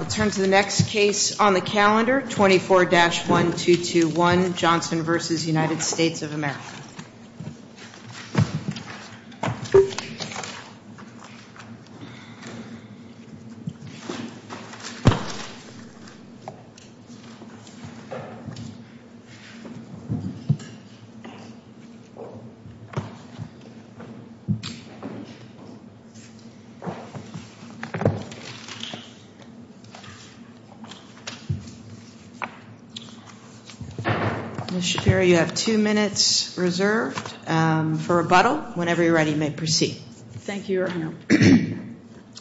of America. Ms. Shapiro, you have two minutes reserved for rebuttal. Whenever you're ready, you may proceed. Thank you, Your Honor.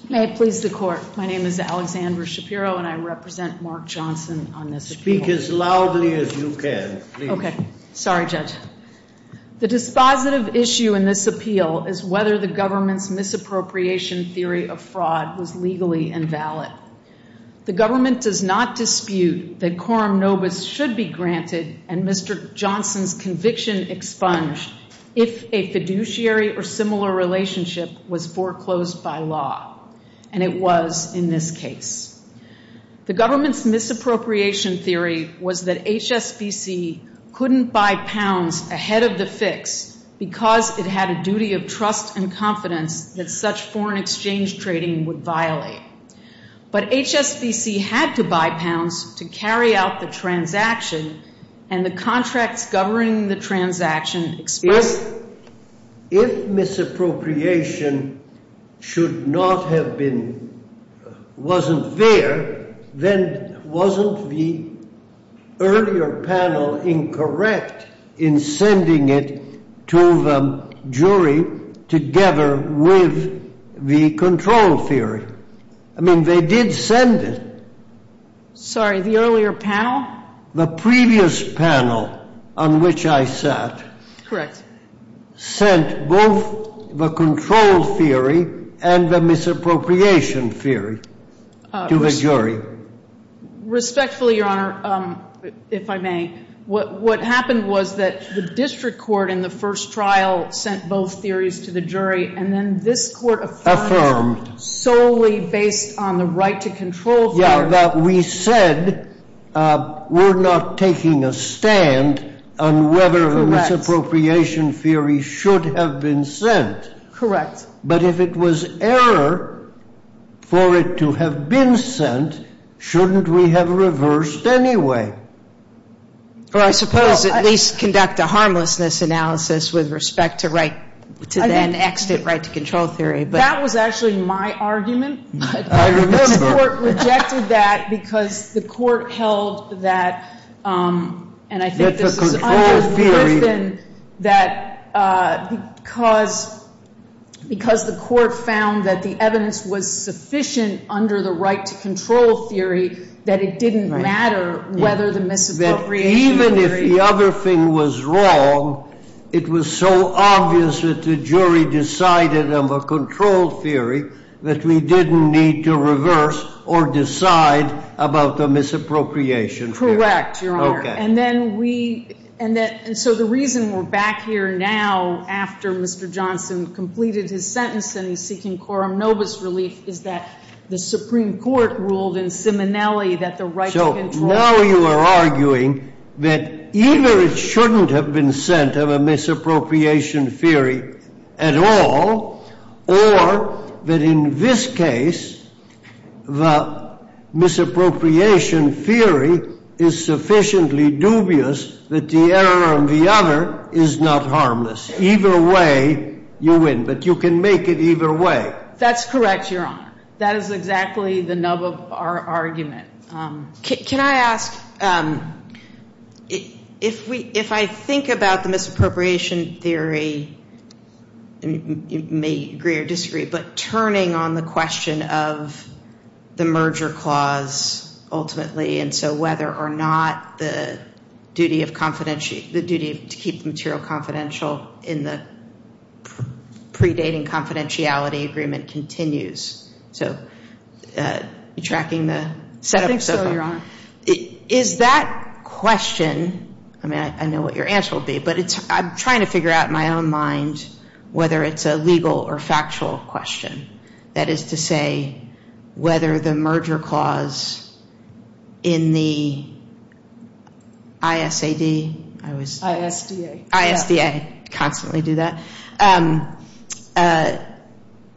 May it please the Court, my name is Alexandra Shapiro, and I represent Mark Johnson on this appeal. Speak as loudly as you can, please. Okay. Sorry, Judge. The dispositive issue in this appeal is whether the government's misappropriation theory of fraud was legally invalid. The government does not dispute that quorum nobis should be granted and Mr. Johnson's conviction expunged if a fiduciary or similar relationship was foreclosed by law, and it was in this case. The government's misappropriation theory was that HSBC couldn't buy pounds ahead of the fix because it had a duty of trust and confidence that such foreign exchange trading would violate. But HSBC had to buy pounds to carry out the transaction, and the contracts governing the transaction expressed If misappropriation should not have been, wasn't there, then wasn't the earlier panel incorrect in sending it to the jury together with the control theory? I mean, they did send it. Sorry, the earlier panel? The previous panel on which I sat. Correct. Sent both the control theory and the misappropriation theory to the jury. Respectfully, Your Honor, if I may, what happened was that the district court in the first trial sent both theories to the jury and then this court affirmed solely based on the right to control theory. We said we're not taking a stand on whether the misappropriation theory should have been sent. Correct. But if it was error for it to have been sent, shouldn't we have reversed anyway? Well, I suppose at least conduct a harmlessness analysis with respect to then-extant right to control theory. That was actually my argument. I remember. The court rejected that because the court held that, and I think this was under Griffin, that because the court found that the evidence was sufficient under the right to control theory, that it didn't matter whether the misappropriation theory- Even if the other thing was wrong, it was so obvious that the jury decided on the control theory that we didn't need to reverse or decide about the misappropriation theory. Correct, Your Honor. Okay. And then we-and so the reason we're back here now after Mr. Johnson completed his sentence and he's seeking coram nobis relief is that the Supreme Court ruled in Simonelli that the right to control- Because now you are arguing that either it shouldn't have been sent of a misappropriation theory at all or that in this case the misappropriation theory is sufficiently dubious that the error on the other is not harmless. Either way, you win. But you can make it either way. That's correct, Your Honor. That is exactly the nub of our argument. Can I ask, if I think about the misappropriation theory, you may agree or disagree, but turning on the question of the merger clause ultimately and so whether or not the duty to keep the material confidential in the predating confidentiality agreement continues. So are you tracking the set up? I think so, Your Honor. Is that question-I mean, I know what your answer will be, but I'm trying to figure out in my own mind whether it's a legal or factual question. That is to say whether the merger clause in the ISAD- ISDA. ISDA. I constantly do that.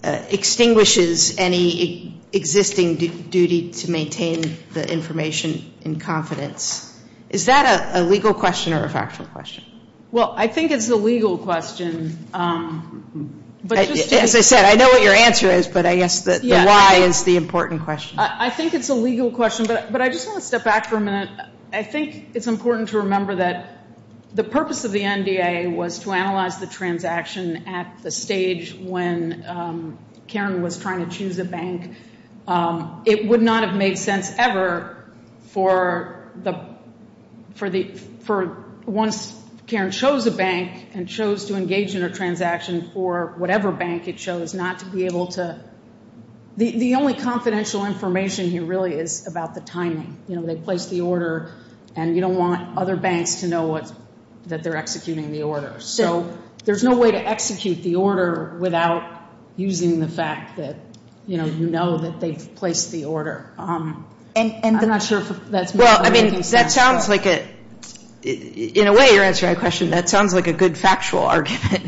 Extinguishes any existing duty to maintain the information in confidence. Is that a legal question or a factual question? Well, I think it's the legal question. As I said, I know what your answer is, but I guess the why is the important question. I think it's a legal question, but I just want to step back for a minute. I think it's important to remember that the purpose of the NDA was to analyze the transaction at the stage when Karen was trying to choose a bank. It would not have made sense ever for once Karen chose a bank and chose to engage in a transaction for whatever bank it chose not to be able to-the only confidential information here really is about the timing. You know, they placed the order, and you don't want other banks to know that they're executing the order. So there's no way to execute the order without using the fact that, you know, you know that they've placed the order. And I'm not sure if that's- Well, I mean, that sounds like a-in a way, your answer to my question, that sounds like a good factual argument.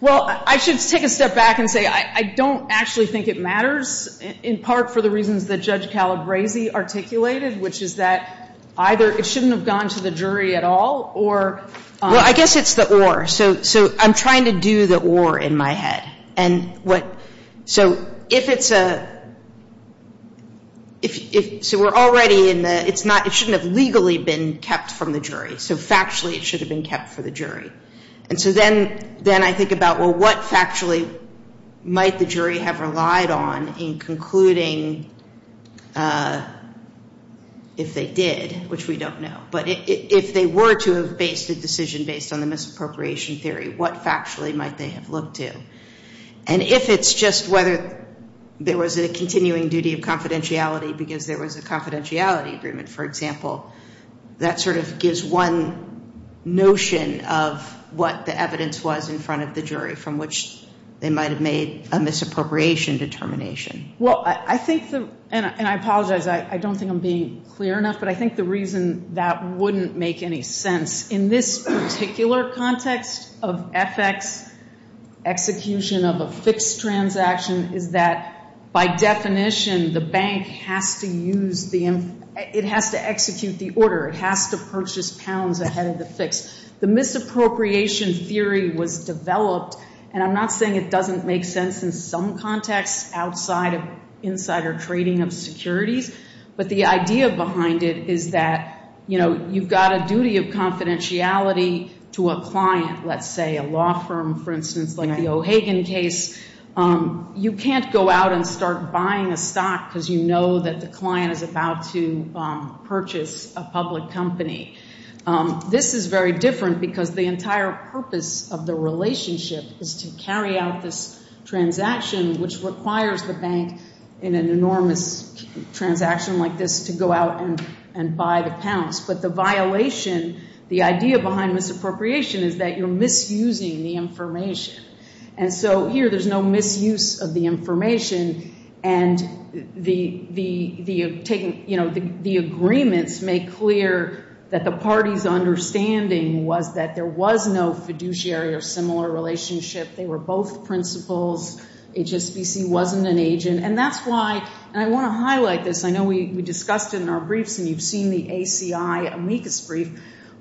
Well, I should take a step back and say I don't actually think it matters, in part for the reasons that Judge Calabresi articulated, which is that either it shouldn't have gone to the jury at all or- Well, I guess it's the or. So I'm trying to do the or in my head. And what-so if it's a-so we're already in the-it's not-it shouldn't have legally been kept from the jury. So factually it should have been kept for the jury. And so then I think about, well, what factually might the jury have relied on in concluding if they did, which we don't know. But if they were to have based a decision based on the misappropriation theory, what factually might they have looked to? And if it's just whether there was a continuing duty of confidentiality because there was a confidentiality agreement, for example, that sort of gives one notion of what the evidence was in front of the jury, from which they might have made a misappropriation determination. Well, I think the-and I apologize. I don't think I'm being clear enough. But I think the reason that wouldn't make any sense in this particular context of FX, execution of a fixed transaction, is that by definition the bank has to use the-it has to execute the order. It has to purchase pounds ahead of the fix. The misappropriation theory was developed. And I'm not saying it doesn't make sense in some contexts outside of insider trading of securities. But the idea behind it is that, you know, you've got a duty of confidentiality to a client, let's say, a law firm, for instance, like the O'Hagan case. You can't go out and start buying a stock because you know that the client is about to purchase a public company. This is very different because the entire purpose of the relationship is to carry out this transaction, which requires the bank in an enormous transaction like this to go out and buy the pounds. But the violation, the idea behind misappropriation is that you're misusing the information. And so here there's no misuse of the information. And the agreements make clear that the party's understanding was that there was no fiduciary or similar relationship. They were both principals. HSBC wasn't an agent. And that's why-and I want to highlight this. I know we discussed it in our briefs and you've seen the ACI amicus brief.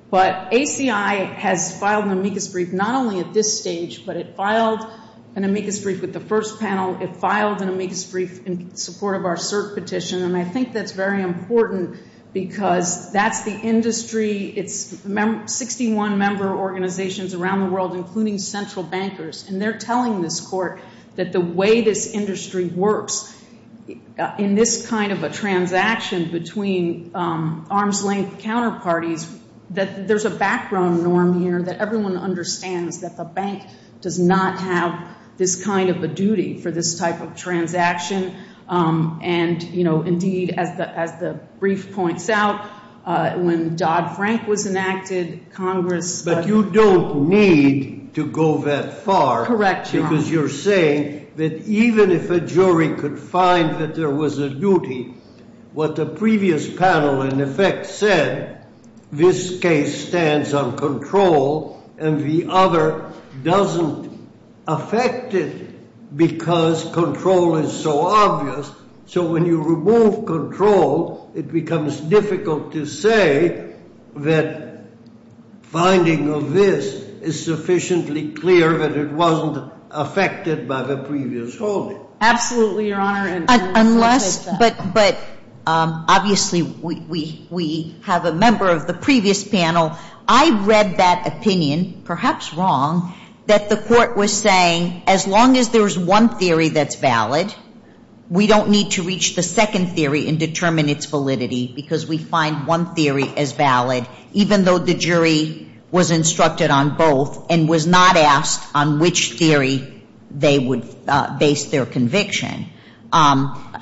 But ACI has filed an amicus brief not only at this stage, but it filed an amicus brief with the first panel. It filed an amicus brief in support of our cert petition. And I think that's very important because that's the industry. It's 61 member organizations around the world, including central bankers. And they're telling this court that the way this industry works, in this kind of a transaction between arm's length counterparties, that there's a background norm here that everyone understands, that the bank does not have this kind of a duty for this type of transaction. And, you know, indeed, as the brief points out, when Dodd-Frank was enacted, Congress- You don't need to go that far. Correct, Your Honor. Because you're saying that even if a jury could find that there was a duty, what the previous panel, in effect, said, this case stands on control and the other doesn't affect it because control is so obvious. So when you remove control, it becomes difficult to say that finding of this is sufficiently clear that it wasn't affected by the previous holding. Absolutely, Your Honor. But obviously we have a member of the previous panel. I read that opinion, perhaps wrong, that the court was saying as long as there's one theory that's valid, we don't need to reach the second theory and determine its validity because we find one theory as valid, even though the jury was instructed on both and was not asked on which theory they would base their conviction.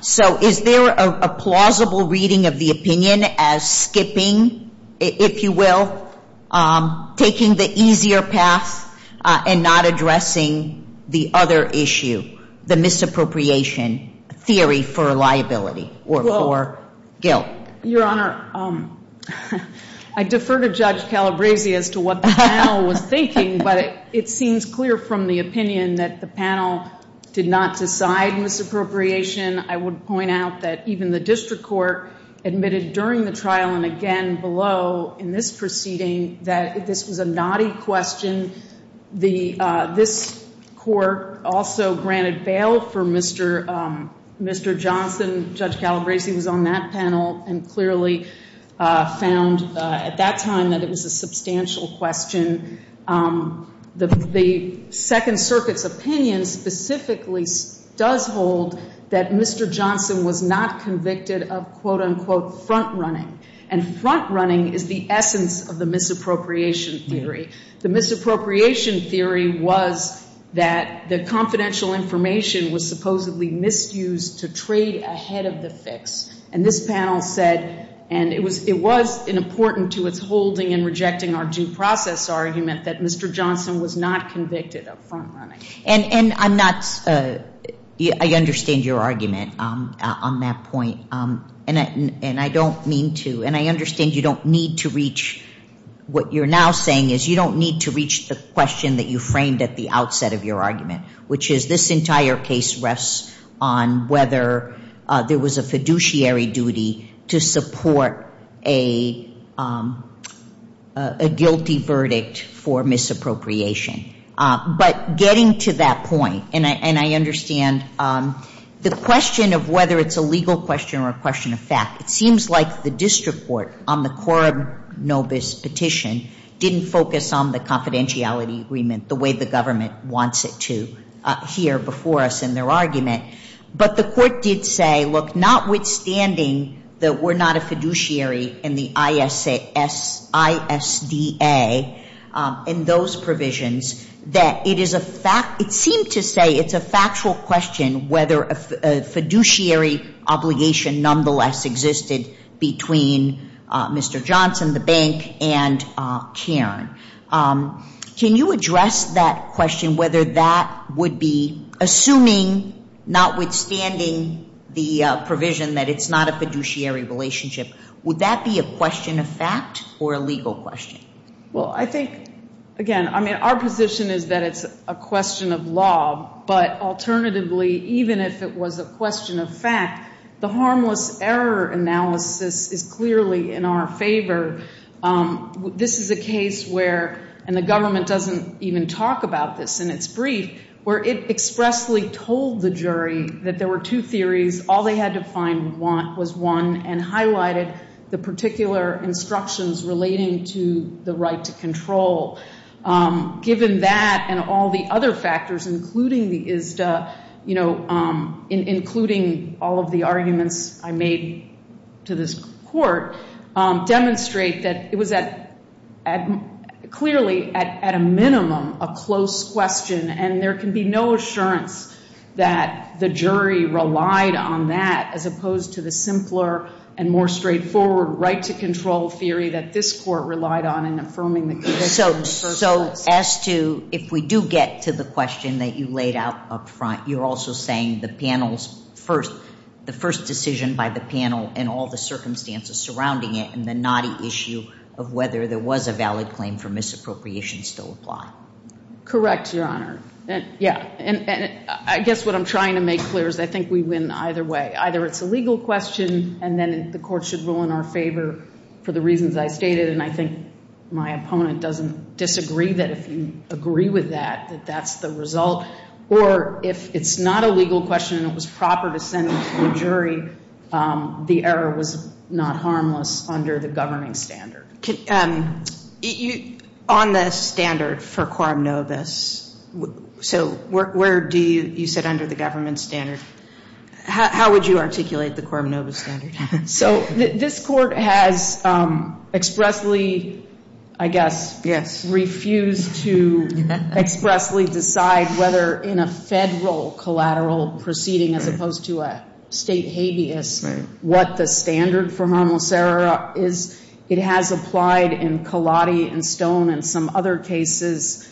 So is there a plausible reading of the opinion as skipping, if you will, taking the easier path and not addressing the other issue, the misappropriation theory for liability or for guilt? Your Honor, I defer to Judge Calabresi as to what the panel was thinking, but it seems clear from the opinion that the panel did not decide misappropriation. I would point out that even the district court admitted during the trial and again below in this proceeding that this was a naughty question. This court also granted bail for Mr. Johnson. Judge Calabresi was on that panel and clearly found at that time that it was a substantial question. The Second Circuit's opinion specifically does hold that Mr. Johnson was not convicted of, quote, unquote, front running. And front running is the essence of the misappropriation theory. The misappropriation theory was that the confidential information was supposedly misused to trade ahead of the fix. And this panel said, and it was important to its holding and rejecting our due process argument, that Mr. Johnson was not convicted of front running. And I'm not, I understand your argument on that point, and I don't mean to, and I understand you don't need to reach what you're now saying is you don't need to reach the question that you framed at the outset of your argument, which is this entire case rests on whether there was a fiduciary duty to support a guilty verdict for misappropriation. But getting to that point, and I understand the question of whether it's a legal question or a question of fact, it seems like the district court on the Korob-Nobis petition didn't focus on the confidentiality agreement the way the government wants it to here before us in their argument. But the court did say, look, notwithstanding that we're not a fiduciary in the ISDA and those provisions, that it is a fact, it seemed to say it's a factual question whether a fiduciary obligation nonetheless existed between Mr. Johnson, the bank, and Karen. Can you address that question, whether that would be assuming, notwithstanding the provision that it's not a fiduciary relationship, would that be a question of fact or a legal question? Well, I think, again, I mean, our position is that it's a question of law. But alternatively, even if it was a question of fact, the harmless error analysis is clearly in our favor. This is a case where, and the government doesn't even talk about this in its brief, where it expressly told the jury that there were two theories. All they had to find was one and highlighted the particular instructions relating to the right to control. Given that and all the other factors, including the ISDA, including all of the arguments I made to this court, demonstrate that it was clearly, at a minimum, a close question. And there can be no assurance that the jury relied on that, as opposed to the simpler and more straightforward right to control theory that this court relied on in affirming the conviction. So as to if we do get to the question that you laid out up front, you're also saying the panel's first, the first decision by the panel and all the circumstances surrounding it and the knotty issue of whether there was a valid claim for misappropriation still apply? Correct, Your Honor. Yeah. And I guess what I'm trying to make clear is I think we win either way. Either it's a legal question and then the court should rule in our favor for the reasons I stated, and I think my opponent doesn't disagree that if you agree with that, that that's the result. Or if it's not a legal question and it was proper to send it to the jury, the error was not harmless under the governing standard. On the standard for quorum novus, so where do you sit under the government standard? How would you articulate the quorum novus standard? So this court has expressly, I guess, refused to expressly decide whether in a Federal collateral proceeding, as opposed to a State habeas, what the standard for harmless error is. It has applied in Collotti and Stone and some other cases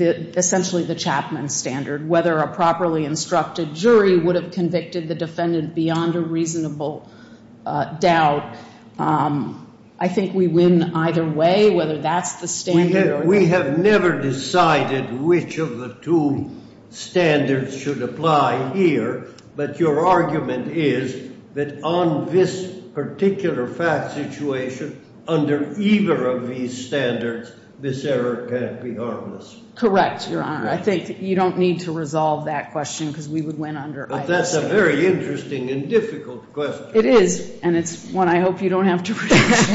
essentially the Chapman standard, whether a properly instructed jury would have convicted the defendant beyond a reasonable doubt. I think we win either way, whether that's the standard or not. We have never decided which of the two standards should apply here, but your argument is that on this particular fact situation, under either of these standards, this error can't be harmless. Correct, Your Honor. I think you don't need to resolve that question, because we would win under ISA. But that's a very interesting and difficult question. It is, and it's one I hope you don't have to produce.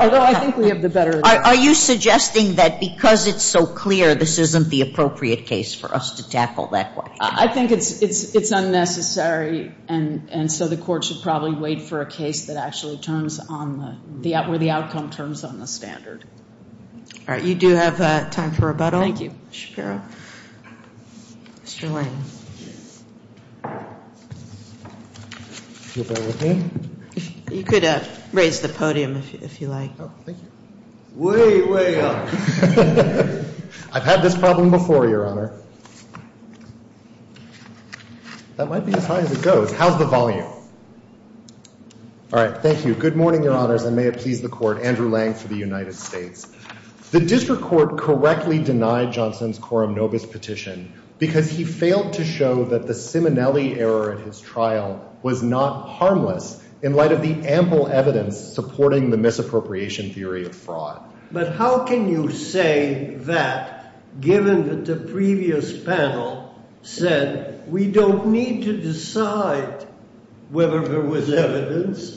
Although I think we have the better answer. Are you suggesting that because it's so clear, this isn't the appropriate case for us to tackle that question? I think it's unnecessary, and so the Court should probably wait for a case that actually turns on the – where the outcome turns on the standard. All right. You do have time for rebuttal. Thank you. Shapiro. Mr. Lang. If you'll bear with me. You could raise the podium, if you like. Oh, thank you. Way, way up. I've had this problem before, Your Honor. That might be as high as it goes. How's the volume? All right. Thank you. Good morning, Your Honors, and may it please the Court. Andrew Lang for the United States. The district court correctly denied Johnson's quorum nobis petition, because he failed to show that the Simonelli error at his trial was not harmless, in light of the ample evidence supporting the misappropriation theory of fraud. But how can you say that, given that the previous panel said we don't need to decide whether there was evidence,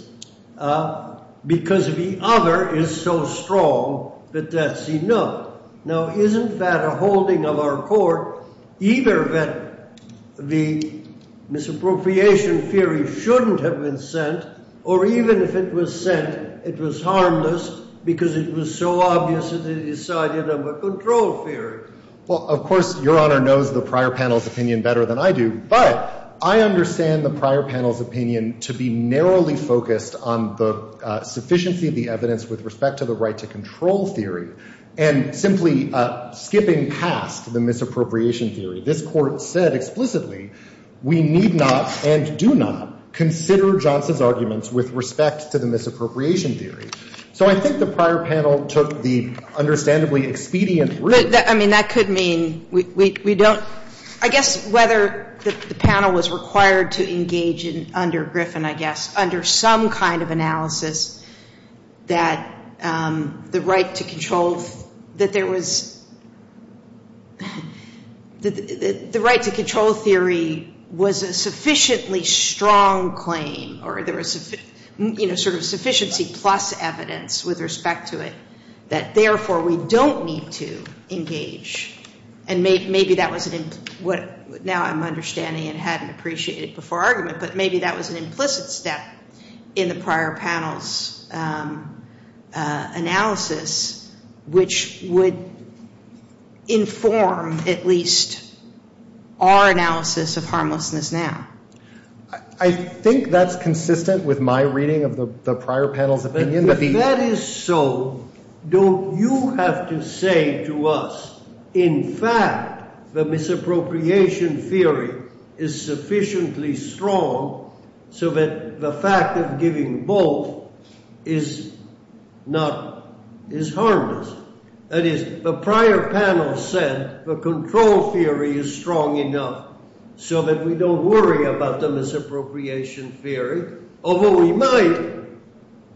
because the other is so strong that that's enough? Now, isn't that a holding of our court, either that the misappropriation theory shouldn't have been sent, or even if it was sent, it was harmless because it was so obvious that it decided under control theory? Well, of course, Your Honor knows the prior panel's opinion better than I do, but I understand the prior panel's opinion to be narrowly focused on the sufficiency of the evidence with respect to the right to control theory, and simply skipping past the misappropriation theory. This Court said explicitly we need not and do not consider Johnson's arguments with respect to the misappropriation theory. So I think the prior panel took the understandably expedient route. But, I mean, that could mean we don't. I guess whether the panel was required to engage under Griffin, I guess, under some kind of analysis that the right to control theory was a sufficiently strong claim, or there was sort of sufficiency plus evidence with respect to it, that therefore we don't need to engage. And maybe that was what now I'm understanding and hadn't appreciated before argument, but maybe that was an implicit step in the prior panel's analysis, which would inform at least our analysis of harmlessness now. I think that's consistent with my reading of the prior panel's opinion. If that is so, don't you have to say to us, in fact, the misappropriation theory is sufficiently strong so that the fact of giving both is harmless? That is, the prior panel said the control theory is strong enough so that we don't worry about the misappropriation theory, although we might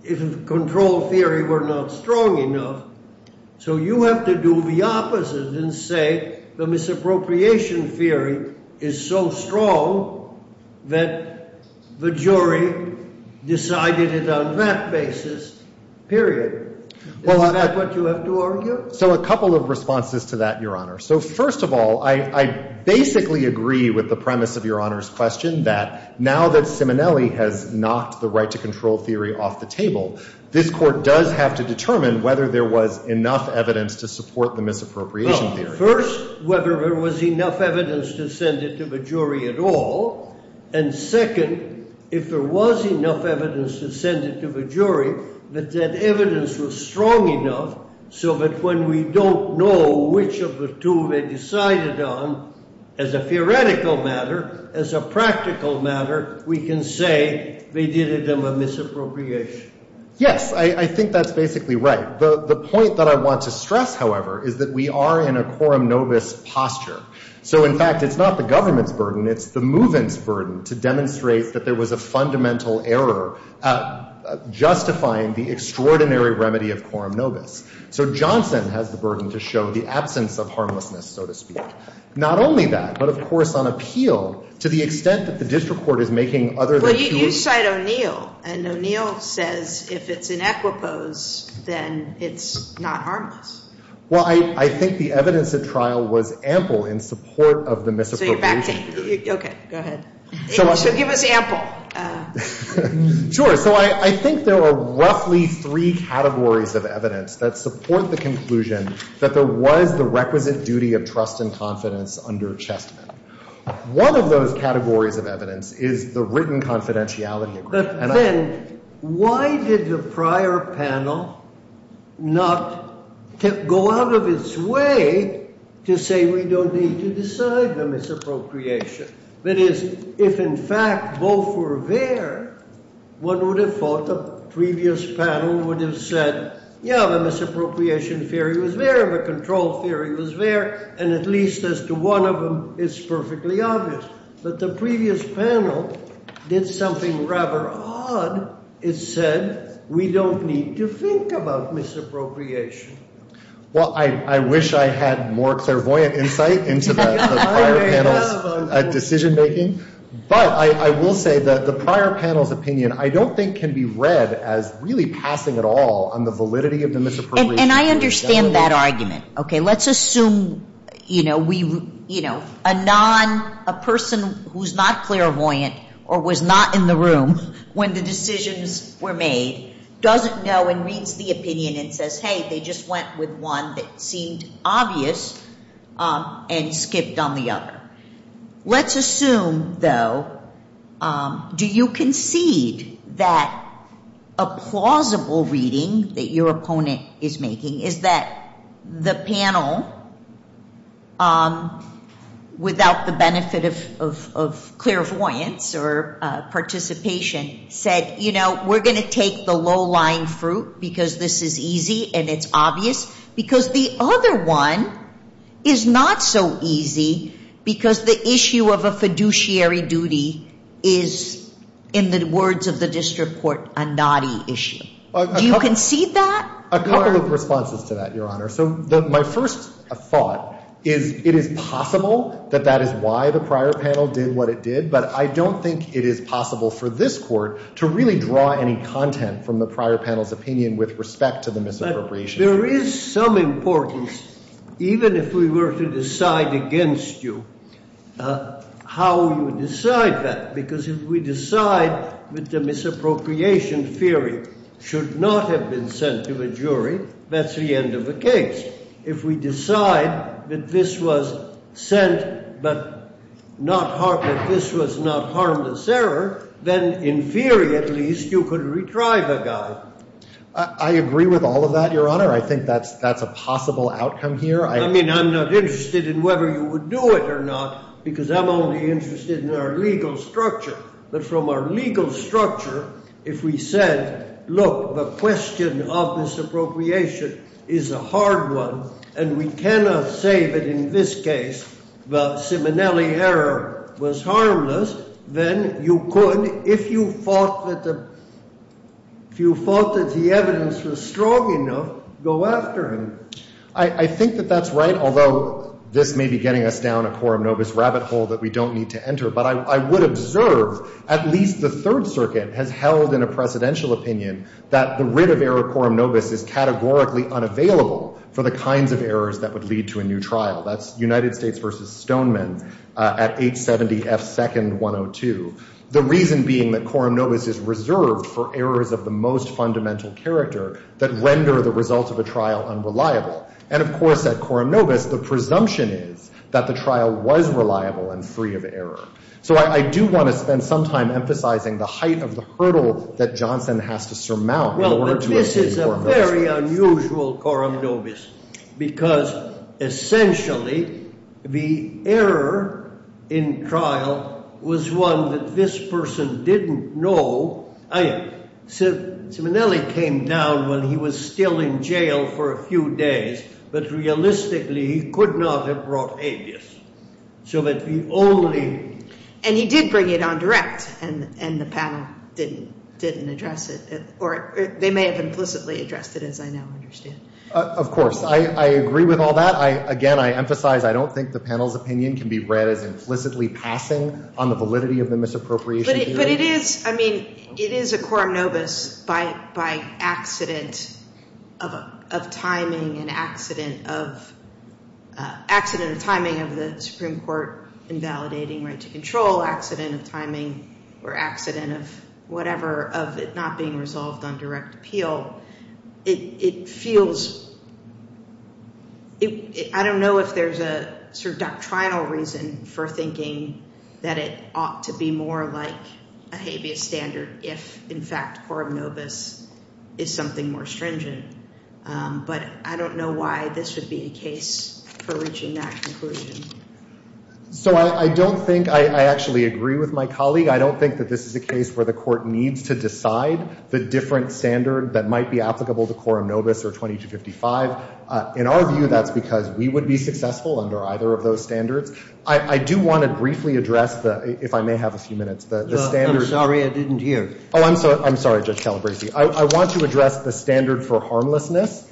if the control theory were not strong enough. So you have to do the opposite and say the misappropriation theory is so strong that the jury decided it on that basis, period. Is that what you have to argue? So a couple of responses to that, Your Honor. So first of all, I basically agree with the premise of Your Honor's question, that now that Simonelli has knocked the right-to-control theory off the table, this Court does have to determine whether there was enough evidence to support the misappropriation theory. First, whether there was enough evidence to send it to the jury at all. And second, if there was enough evidence to send it to the jury, that that evidence was strong enough so that when we don't know which of the two they decided on, as a theoretical matter, as a practical matter, we can say they did it on the misappropriation. Yes, I think that's basically right. The point that I want to stress, however, is that we are in a quorum novus posture. So, in fact, it's not the government's burden. It's the movement's burden to demonstrate that there was a fundamental error justifying the extraordinary remedy of quorum novus. So Johnson has the burden to show the absence of harmlessness, so to speak. Not only that, but, of course, on appeal, to the extent that the district court is making other than two. Well, you cite O'Neill, and O'Neill says if it's in equipose, then it's not harmless. Well, I think the evidence at trial was ample in support of the misappropriation theory. Okay, go ahead. So give us ample. Sure. So I think there were roughly three categories of evidence that support the conclusion that there was the requisite duty of trust and confidence under Chestnut. One of those categories of evidence is the written confidentiality agreement. But then why did the prior panel not go out of its way to say we don't need to decide the misappropriation? That is, if, in fact, both were there, one would have thought the previous panel would have said, yeah, the misappropriation theory was there, the control theory was there, and at least as to one of them, it's perfectly obvious. But the previous panel did something rather odd. It said we don't need to think about misappropriation. Well, I wish I had more clairvoyant insight into the prior panel's decision-making. But I will say that the prior panel's opinion I don't think can be read as really passing at all on the validity of the misappropriation. And I understand that argument. Okay, let's assume, you know, a person who's not clairvoyant or was not in the room when the decisions were made doesn't know and reads the opinion and says, hey, they just went with one that seemed obvious and skipped on the other. Let's assume, though, do you concede that a plausible reading that your opponent is making is that the panel, without the benefit of clairvoyance or participation, said, you know, we're going to take the low-lying fruit because this is easy and it's obvious? Because the other one is not so easy because the issue of a fiduciary duty is, in the words of the district court, a naughty issue. Do you concede that? A couple of responses to that, Your Honor. So my first thought is it is possible that that is why the prior panel did what it did, but I don't think it is possible for this court to really draw any content from the prior panel's opinion with respect to the misappropriation. There is some importance, even if we were to decide against you, how you decide that, because if we decide that the misappropriation theory should not have been sent to a jury, that's the end of the case. If we decide that this was sent but this was not harmless error, then in theory, at least, you could retry the guy. I agree with all of that, Your Honor. I think that's a possible outcome here. I mean, I'm not interested in whether you would do it or not because I'm only interested in our legal structure. But from our legal structure, if we said, look, the question of misappropriation is a hard one and we cannot say that in this case the Simonelli error was harmless, then you could, if you thought that the evidence was strong enough, go after him. I think that that's right, although this may be getting us down a quorum nobis rabbit hole that we don't need to enter. But I would observe at least the Third Circuit has held in a precedential opinion that the writ of error quorum nobis is categorically unavailable for the kinds of errors that would lead to a new trial. That's United States v. Stoneman at 870 F. 2nd 102. The reason being that quorum nobis is reserved for errors of the most fundamental character that render the result of a trial unreliable. And, of course, at quorum nobis, the presumption is that the trial was reliable and free of error. So I do want to spend some time emphasizing the height of the hurdle that Johnson has to surmount in order to achieve quorum nobis. Because, essentially, the error in trial was one that this person didn't know. I mean, Simonelli came down when he was still in jail for a few days, but realistically he could not have brought habeas. So that we only... And he did bring it on direct and the panel didn't address it. Or they may have implicitly addressed it, as I now understand. Of course. I agree with all that. Again, I emphasize I don't think the panel's opinion can be read as implicitly passing on the validity of the misappropriation theory. But it is. I mean, it is a quorum nobis by accident of timing and accident of... Accident of timing of the Supreme Court invalidating right to control. Accident of timing or accident of whatever of it not being resolved on direct appeal. It feels... I don't know if there's a sort of doctrinal reason for thinking that it ought to be more like a habeas standard if, in fact, quorum nobis is something more stringent. But I don't know why this would be a case for reaching that conclusion. So I don't think... I actually agree with my colleague. I don't think that this is a case where the court needs to decide the different standard that might be applicable to quorum nobis or 2255. In our view, that's because we would be successful under either of those standards. I do want to briefly address the... If I may have a few minutes. The standard... I'm sorry I didn't hear. Oh, I'm sorry. I'm sorry, Judge Calabresi. I want to address the standard for harmlessness.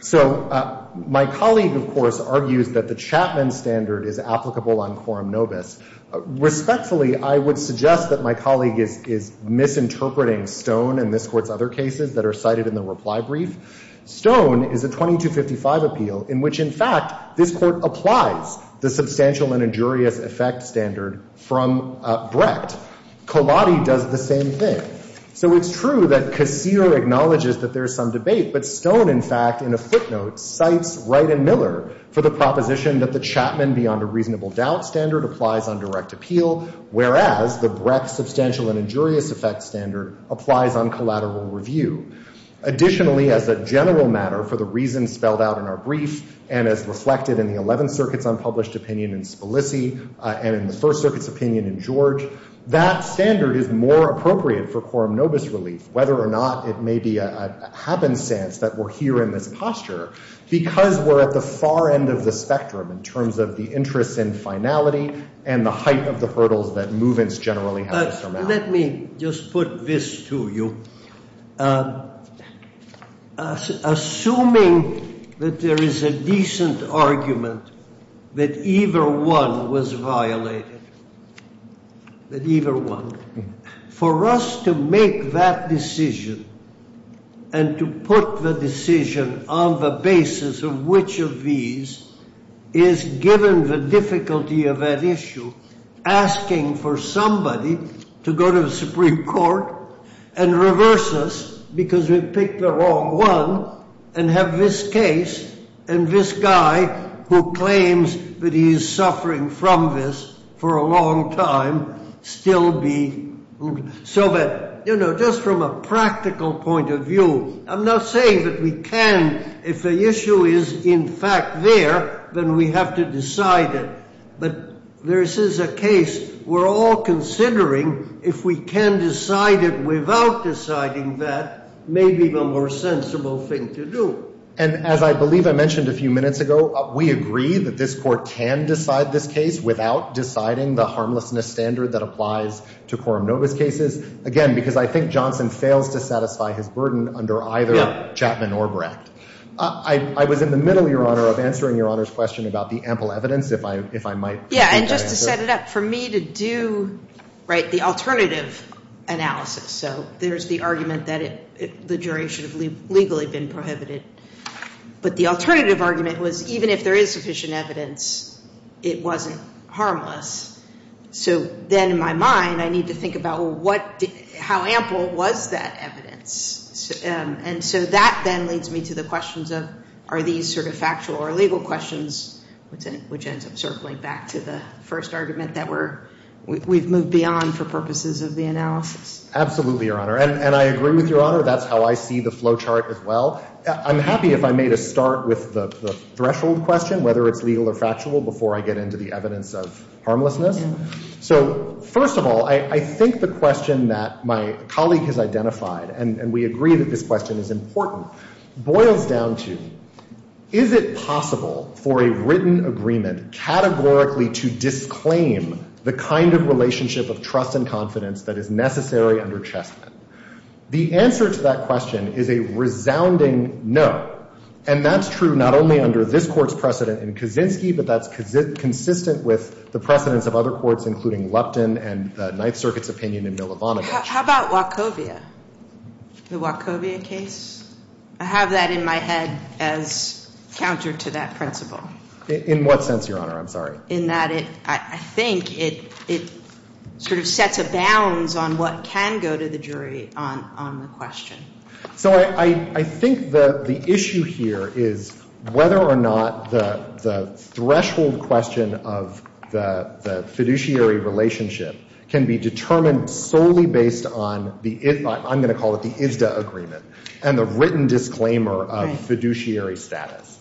So my colleague, of course, argues that the Chapman standard is applicable on quorum nobis. Respectfully, I would suggest that my colleague is misinterpreting Stone and this Court's other cases that are cited in the reply brief. Stone is a 2255 appeal in which, in fact, this Court applies the substantial and injurious effect standard from Brecht. Colati does the same thing. So it's true that Kassir acknowledges that there's some debate, but Stone, in fact, in a footnote, cites Wright and Miller for the proposition that the Chapman beyond a reasonable doubt standard applies on direct appeal, whereas the Brecht substantial and injurious effect standard applies on collateral review. Additionally, as a general matter, for the reasons spelled out in our brief and as reflected in the Eleventh Circuit's unpublished opinion in Spilici and in the First Circuit's opinion in George, that standard is more appropriate for quorum nobis relief, whether or not it may be a happenstance that we're here in this posture, because we're at the far end of the spectrum in terms of the interest in finality and the height of the hurdles that movements generally have to surmount. Now, let me just put this to you. Assuming that there is a decent argument that either one was violated, that either one, for us to make that decision and to put the decision on the basis of which of these is, given the difficulty of that issue, asking for somebody to go to the Supreme Court and reverse us because we picked the wrong one and have this case and this guy who claims that he is suffering from this for a long time still be. So that, you know, just from a practical point of view, I'm not saying that we can, if the issue is in fact there, then we have to decide it. But this is a case we're all considering. If we can decide it without deciding that, maybe the more sensible thing to do. And as I believe I mentioned a few minutes ago, we agree that this court can decide this case without deciding the harmlessness standard that applies to Coram Novus cases. Again, because I think Johnson fails to satisfy his burden under either Chapman or Brecht. I was in the middle, Your Honor, of answering Your Honor's question about the ample evidence, if I might. Yeah, and just to set it up for me to do, right, the alternative analysis. So there's the argument that the jury should have legally been prohibited. But the alternative argument was even if there is sufficient evidence, it wasn't harmless. So then in my mind, I need to think about how ample was that evidence. And so that then leads me to the questions of are these sort of factual or legal questions, which ends up circling back to the first argument that we've moved beyond for purposes of the analysis. Absolutely, Your Honor. And I agree with Your Honor. That's how I see the flow chart as well. I'm happy if I made a start with the threshold question, whether it's legal or factual, before I get into the evidence of harmlessness. So first of all, I think the question that my colleague has identified, and we agree that this question is important, boils down to is it possible for a written agreement categorically to disclaim the kind of relationship of trust and confidence that is necessary under Chessman? The answer to that question is a resounding no. And that's true not only under this Court's precedent in Kaczynski, but that's consistent with the precedents of other courts, including Lupton and the Ninth Circuit's opinion in Milovanovitch. How about Wachovia? The Wachovia case? I have that in my head as counter to that principle. In what sense, Your Honor? I'm sorry. In that I think it sort of sets a balance on what can go to the jury on the question. So I think the issue here is whether or not the threshold question of the fiduciary relationship can be determined solely based on the, I'm going to call it the ISDA agreement, and the written disclaimer of fiduciary status.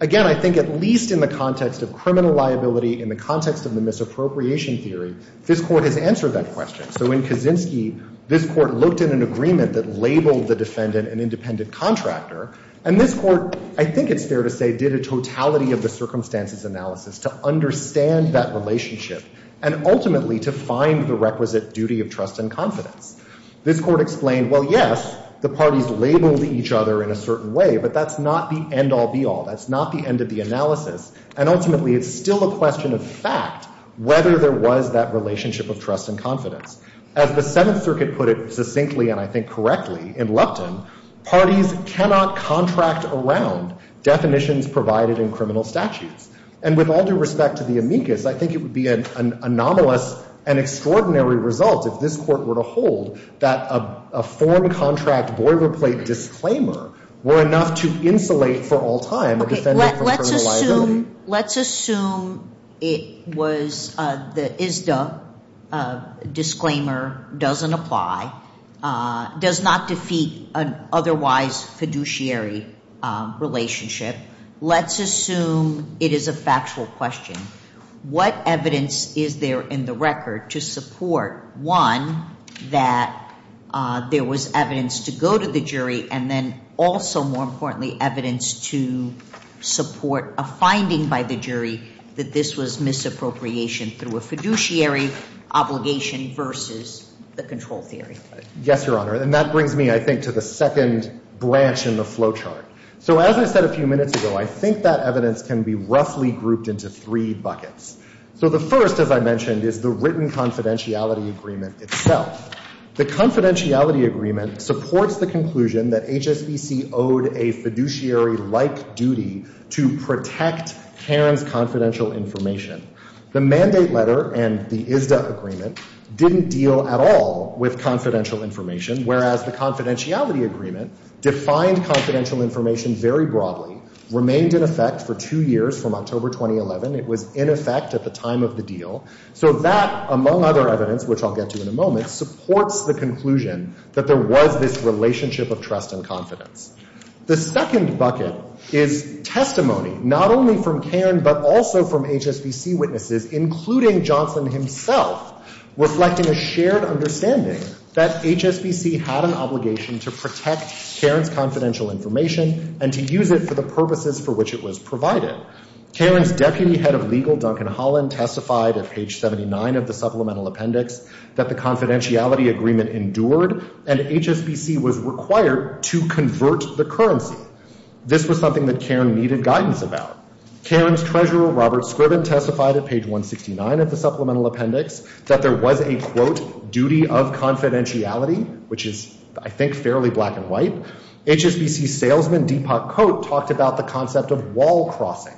Again, I think at least in the context of criminal liability, in the context of the misappropriation theory, this Court has answered that question. So in Kaczynski, this Court looked at an agreement that labeled the defendant an independent contractor. And this Court, I think it's fair to say, did a totality of the circumstances analysis to understand that relationship and ultimately to find the requisite duty of trust and confidence. This Court explained, well, yes, the parties labeled each other in a certain way, but that's not the end-all, be-all. That's not the end of the analysis. And ultimately, it's still a question of fact, whether there was that relationship of trust and confidence. As the Seventh Circuit put it succinctly, and I think correctly, in Lupton, parties cannot contract around definitions provided in criminal statutes. And with all due respect to the amicus, I think it would be an anomalous and extraordinary result if this Court were to hold that a foreign contract boilerplate disclaimer were enough to insulate for all time a defendant from criminal liability. Okay, let's assume it was the ISDA disclaimer doesn't apply, does not defeat an otherwise fiduciary relationship. Let's assume it is a factual question. What evidence is there in the record to support, one, that there was evidence to go to the jury and then also, more importantly, evidence to support a finding by the jury that this was misappropriation through a fiduciary obligation versus the control theory? Yes, Your Honor. And that brings me, I think, to the second branch in the flow chart. So as I said a few minutes ago, I think that evidence can be roughly grouped into three buckets. So the first, as I mentioned, is the written confidentiality agreement itself. The confidentiality agreement supports the conclusion that HSBC owed a fiduciary-like duty to protect Karen's confidential information. The mandate letter and the ISDA agreement didn't deal at all with confidential information, whereas the confidentiality agreement defined confidential information very broadly, remained in effect for two years from October 2011. It was in effect at the time of the deal. So that, among other evidence, which I'll get to in a moment, supports the conclusion that there was this relationship of trust and confidence. The second bucket is testimony, not only from Karen but also from HSBC witnesses, including Johnson himself, reflecting a shared understanding that HSBC had an obligation to protect Karen's confidential information and to use it for the purposes for which it was provided. Karen's deputy head of legal, Duncan Holland, testified at page 79 of the supplemental appendix that the confidentiality agreement endured and HSBC was required to convert the currency. This was something that Karen needed guidance about. Karen's treasurer, Robert Scriven, testified at page 169 of the supplemental appendix that there was a, quote, duty of confidentiality, which is, I think, fairly black and white. HSBC salesman, Deepak Kot, talked about the concept of wall crossing.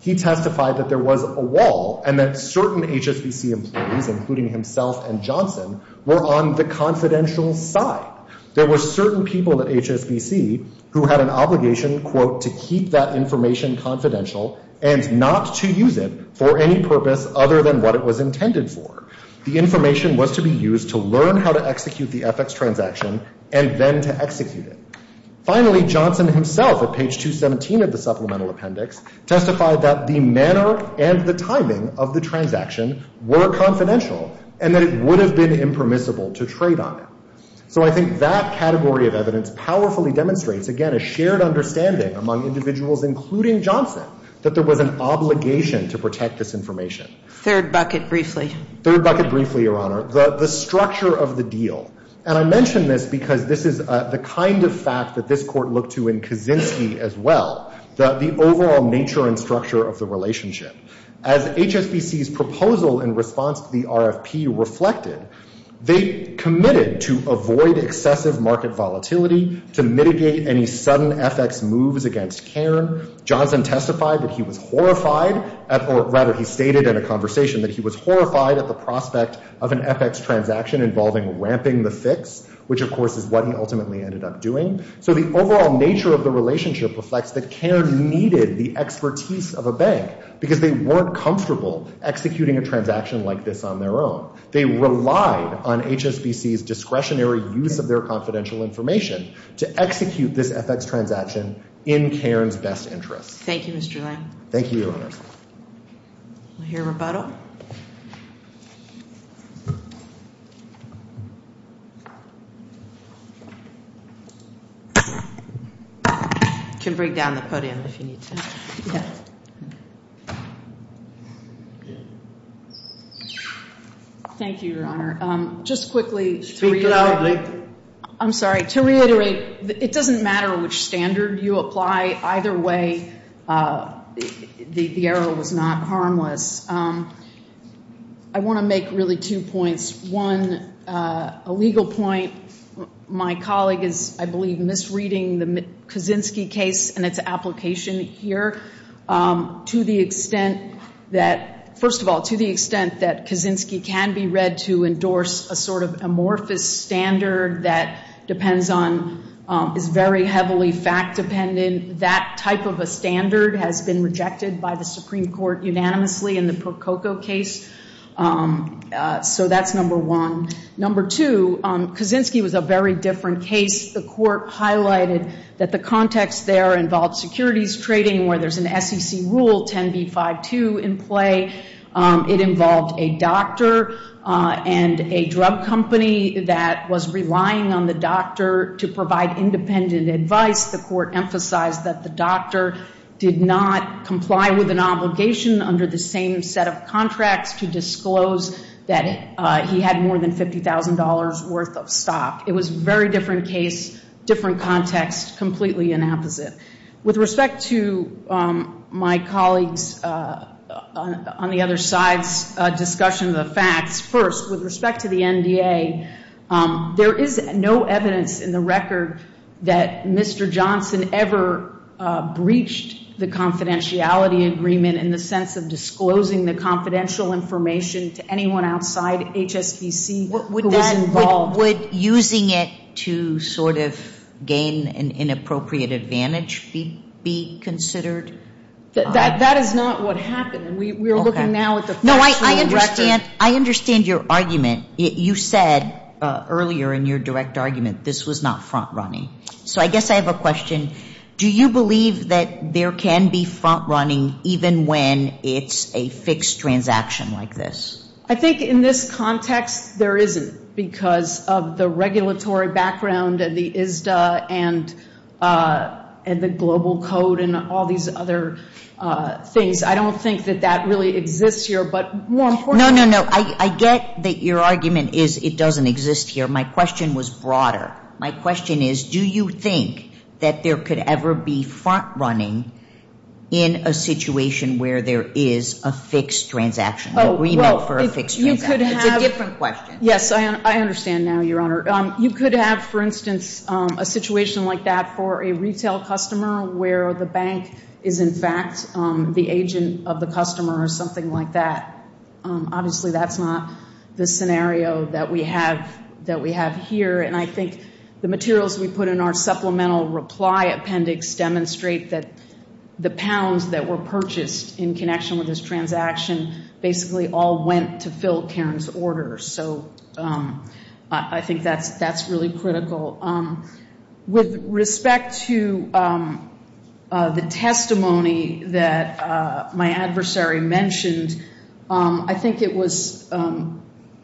He testified that there was a wall and that certain HSBC employees, including himself and Johnson, were on the confidential side. There were certain people at HSBC who had an obligation, quote, to keep that information confidential and not to use it for any purpose other than what it was intended for. The information was to be used to learn how to execute the FX transaction and then to execute it. Finally, Johnson himself, at page 217 of the supplemental appendix, testified that the manner and the timing of the transaction were confidential and that it would have been impermissible to trade on it. So I think that category of evidence powerfully demonstrates, again, a shared understanding among individuals, including Johnson, that there was an obligation to protect this information. Third bucket, briefly. Third bucket, briefly, Your Honor. The structure of the deal. And I mention this because this is the kind of fact that this Court looked to in Kaczynski as well, the overall nature and structure of the relationship. As HSBC's proposal in response to the RFP reflected, they committed to avoid excessive market volatility, to mitigate any sudden FX moves against Cairn. Johnson testified that he was horrified, or rather he stated in a conversation that he was horrified at the prospect of an FX transaction involving ramping the fix, which of course is what he ultimately ended up doing. So the overall nature of the relationship reflects that Cairn needed the expertise of a bank because they weren't comfortable executing a transaction like this on their own. They relied on HSBC's discretionary use of their confidential information to execute this FX transaction in Cairn's best interest. Thank you, Mr. Lang. Thank you, Your Honor. We'll hear rebuttal. You can bring down the podium if you need to. Okay. Thank you, Your Honor. Just quickly to reiterate. Speak loudly. I'm sorry. To reiterate, it doesn't matter which standard you apply. Either way, the error was not harmless. I want to make really two points. One, a legal point. My colleague is, I believe, misreading the Kaczynski case and its application here. To the extent that, first of all, to the extent that Kaczynski can be read to endorse a sort of amorphous standard that depends on, is very heavily fact-dependent, that type of a standard has been rejected by the Supreme Court unanimously in the Prococo case. So that's number one. Number two, Kaczynski was a very different case. The Court highlighted that the context there involved securities trading where there's an SEC rule, 10b-5-2, in play. It involved a doctor and a drug company that was relying on the doctor to provide independent advice. The Court emphasized that the doctor did not comply with an obligation under the same set of contracts to disclose that he had more than $50,000 worth of stock. It was a very different case, different context, completely inapposite. With respect to my colleague's, on the other side's, discussion of the facts, first, with respect to the NDA, there is no evidence in the record that Mr. Johnson ever breached the confidentiality agreement in the sense of disclosing the confidential information to anyone outside HSBC who was involved. Would using it to sort of gain an inappropriate advantage be considered? That is not what happened. We are looking now at the factual record. I understand your argument. You said earlier in your direct argument this was not front-running. So I guess I have a question. Do you believe that there can be front-running even when it's a fixed transaction like this? I think in this context there isn't because of the regulatory background and the ISDA and the global code and all these other things. I don't think that that really exists here. No, no, no. I get that your argument is it doesn't exist here. My question was broader. My question is do you think that there could ever be front-running in a situation where there is a fixed transaction, an agreement for a fixed transaction? It's a different question. Yes, I understand now, Your Honor. You could have, for instance, a situation like that for a retail customer where the bank is, in fact, the agent of the customer or something like that. Obviously that's not the scenario that we have here. And I think the materials we put in our supplemental reply appendix demonstrate that the pounds that were purchased in connection with this transaction basically all went to fill Karen's order. So I think that's really critical. With respect to the testimony that my adversary mentioned, I think it was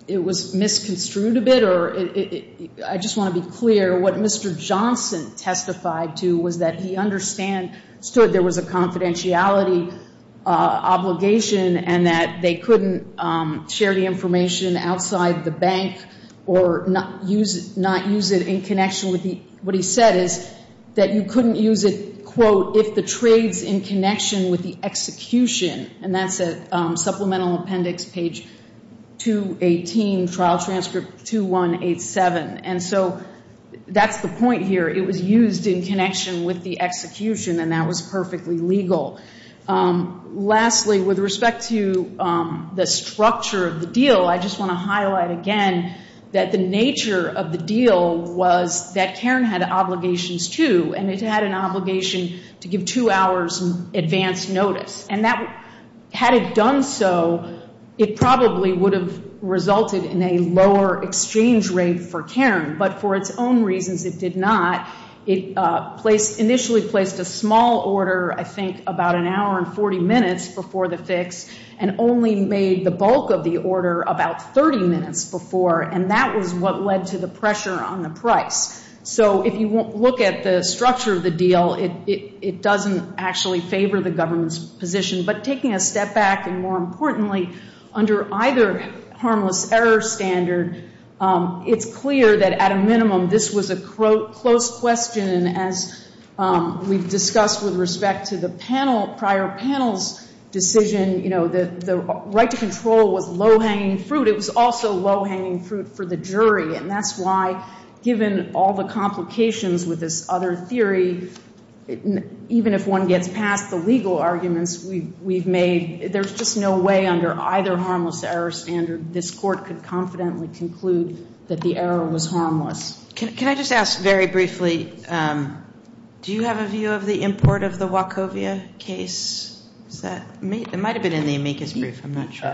misconstrued a bit. I just want to be clear. What Mr. Johnson testified to was that he understood there was a confidentiality obligation and that they couldn't share the information outside the bank or not use it in connection with the ‑‑ what he said is that you couldn't use it, quote, if the trade's in connection with the execution. And that's at supplemental appendix page 218, trial transcript 2187. And so that's the point here. It was used in connection with the execution, and that was perfectly legal. Lastly, with respect to the structure of the deal, I just want to highlight again that the nature of the deal was that Karen had obligations too, and it had an obligation to give two hours advance notice. And had it done so, it probably would have resulted in a lower exchange rate for Karen. But for its own reasons, it did not. It initially placed a small order, I think, about an hour and 40 minutes before the fix and only made the bulk of the order about 30 minutes before, and that was what led to the pressure on the price. So if you look at the structure of the deal, it doesn't actually favor the government's position. But taking a step back, and more importantly, under either harmless error standard, it's clear that at a minimum this was a close question, and as we've discussed with respect to the prior panel's decision, the right to control was low-hanging fruit. It was also low-hanging fruit for the jury, and that's why given all the complications with this other theory, even if one gets past the legal arguments we've made, there's just no way under either harmless error standard this court could confidently conclude that the error was harmless. Can I just ask very briefly, do you have a view of the import of the Wachovia case? It might have been in the amicus brief. I'm not sure.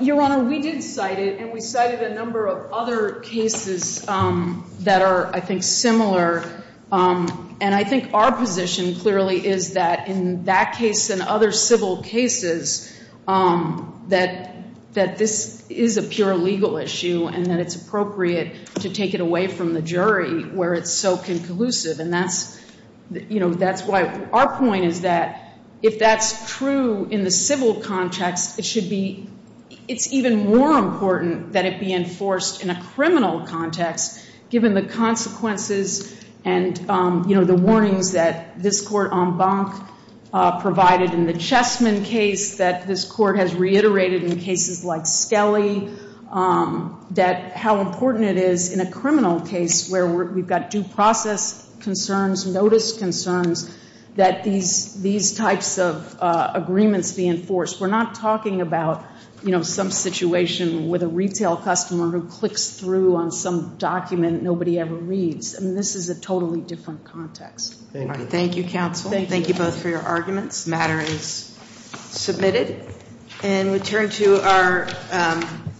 Your Honor, we did cite it, and we cited a number of other cases that are, I think, similar. And I think our position clearly is that in that case and other civil cases, that this is a pure legal issue, and that it's appropriate to take it away from the jury where it's so conclusive. And that's why our point is that if that's true in the civil context, it's even more important that it be enforced in a criminal context, given the consequences and, you know, the warnings that this Court en banc provided in the Chessman case, that this Court has reiterated in cases like Skelly, that how important it is in a criminal case where we've got due process concerns, notice concerns, that these types of agreements be enforced. We're not talking about, you know, some situation with a retail customer who clicks through on some document nobody ever reads. I mean, this is a totally different context. Thank you, counsel. Thank you both for your arguments. The matter is submitted. And we turn to our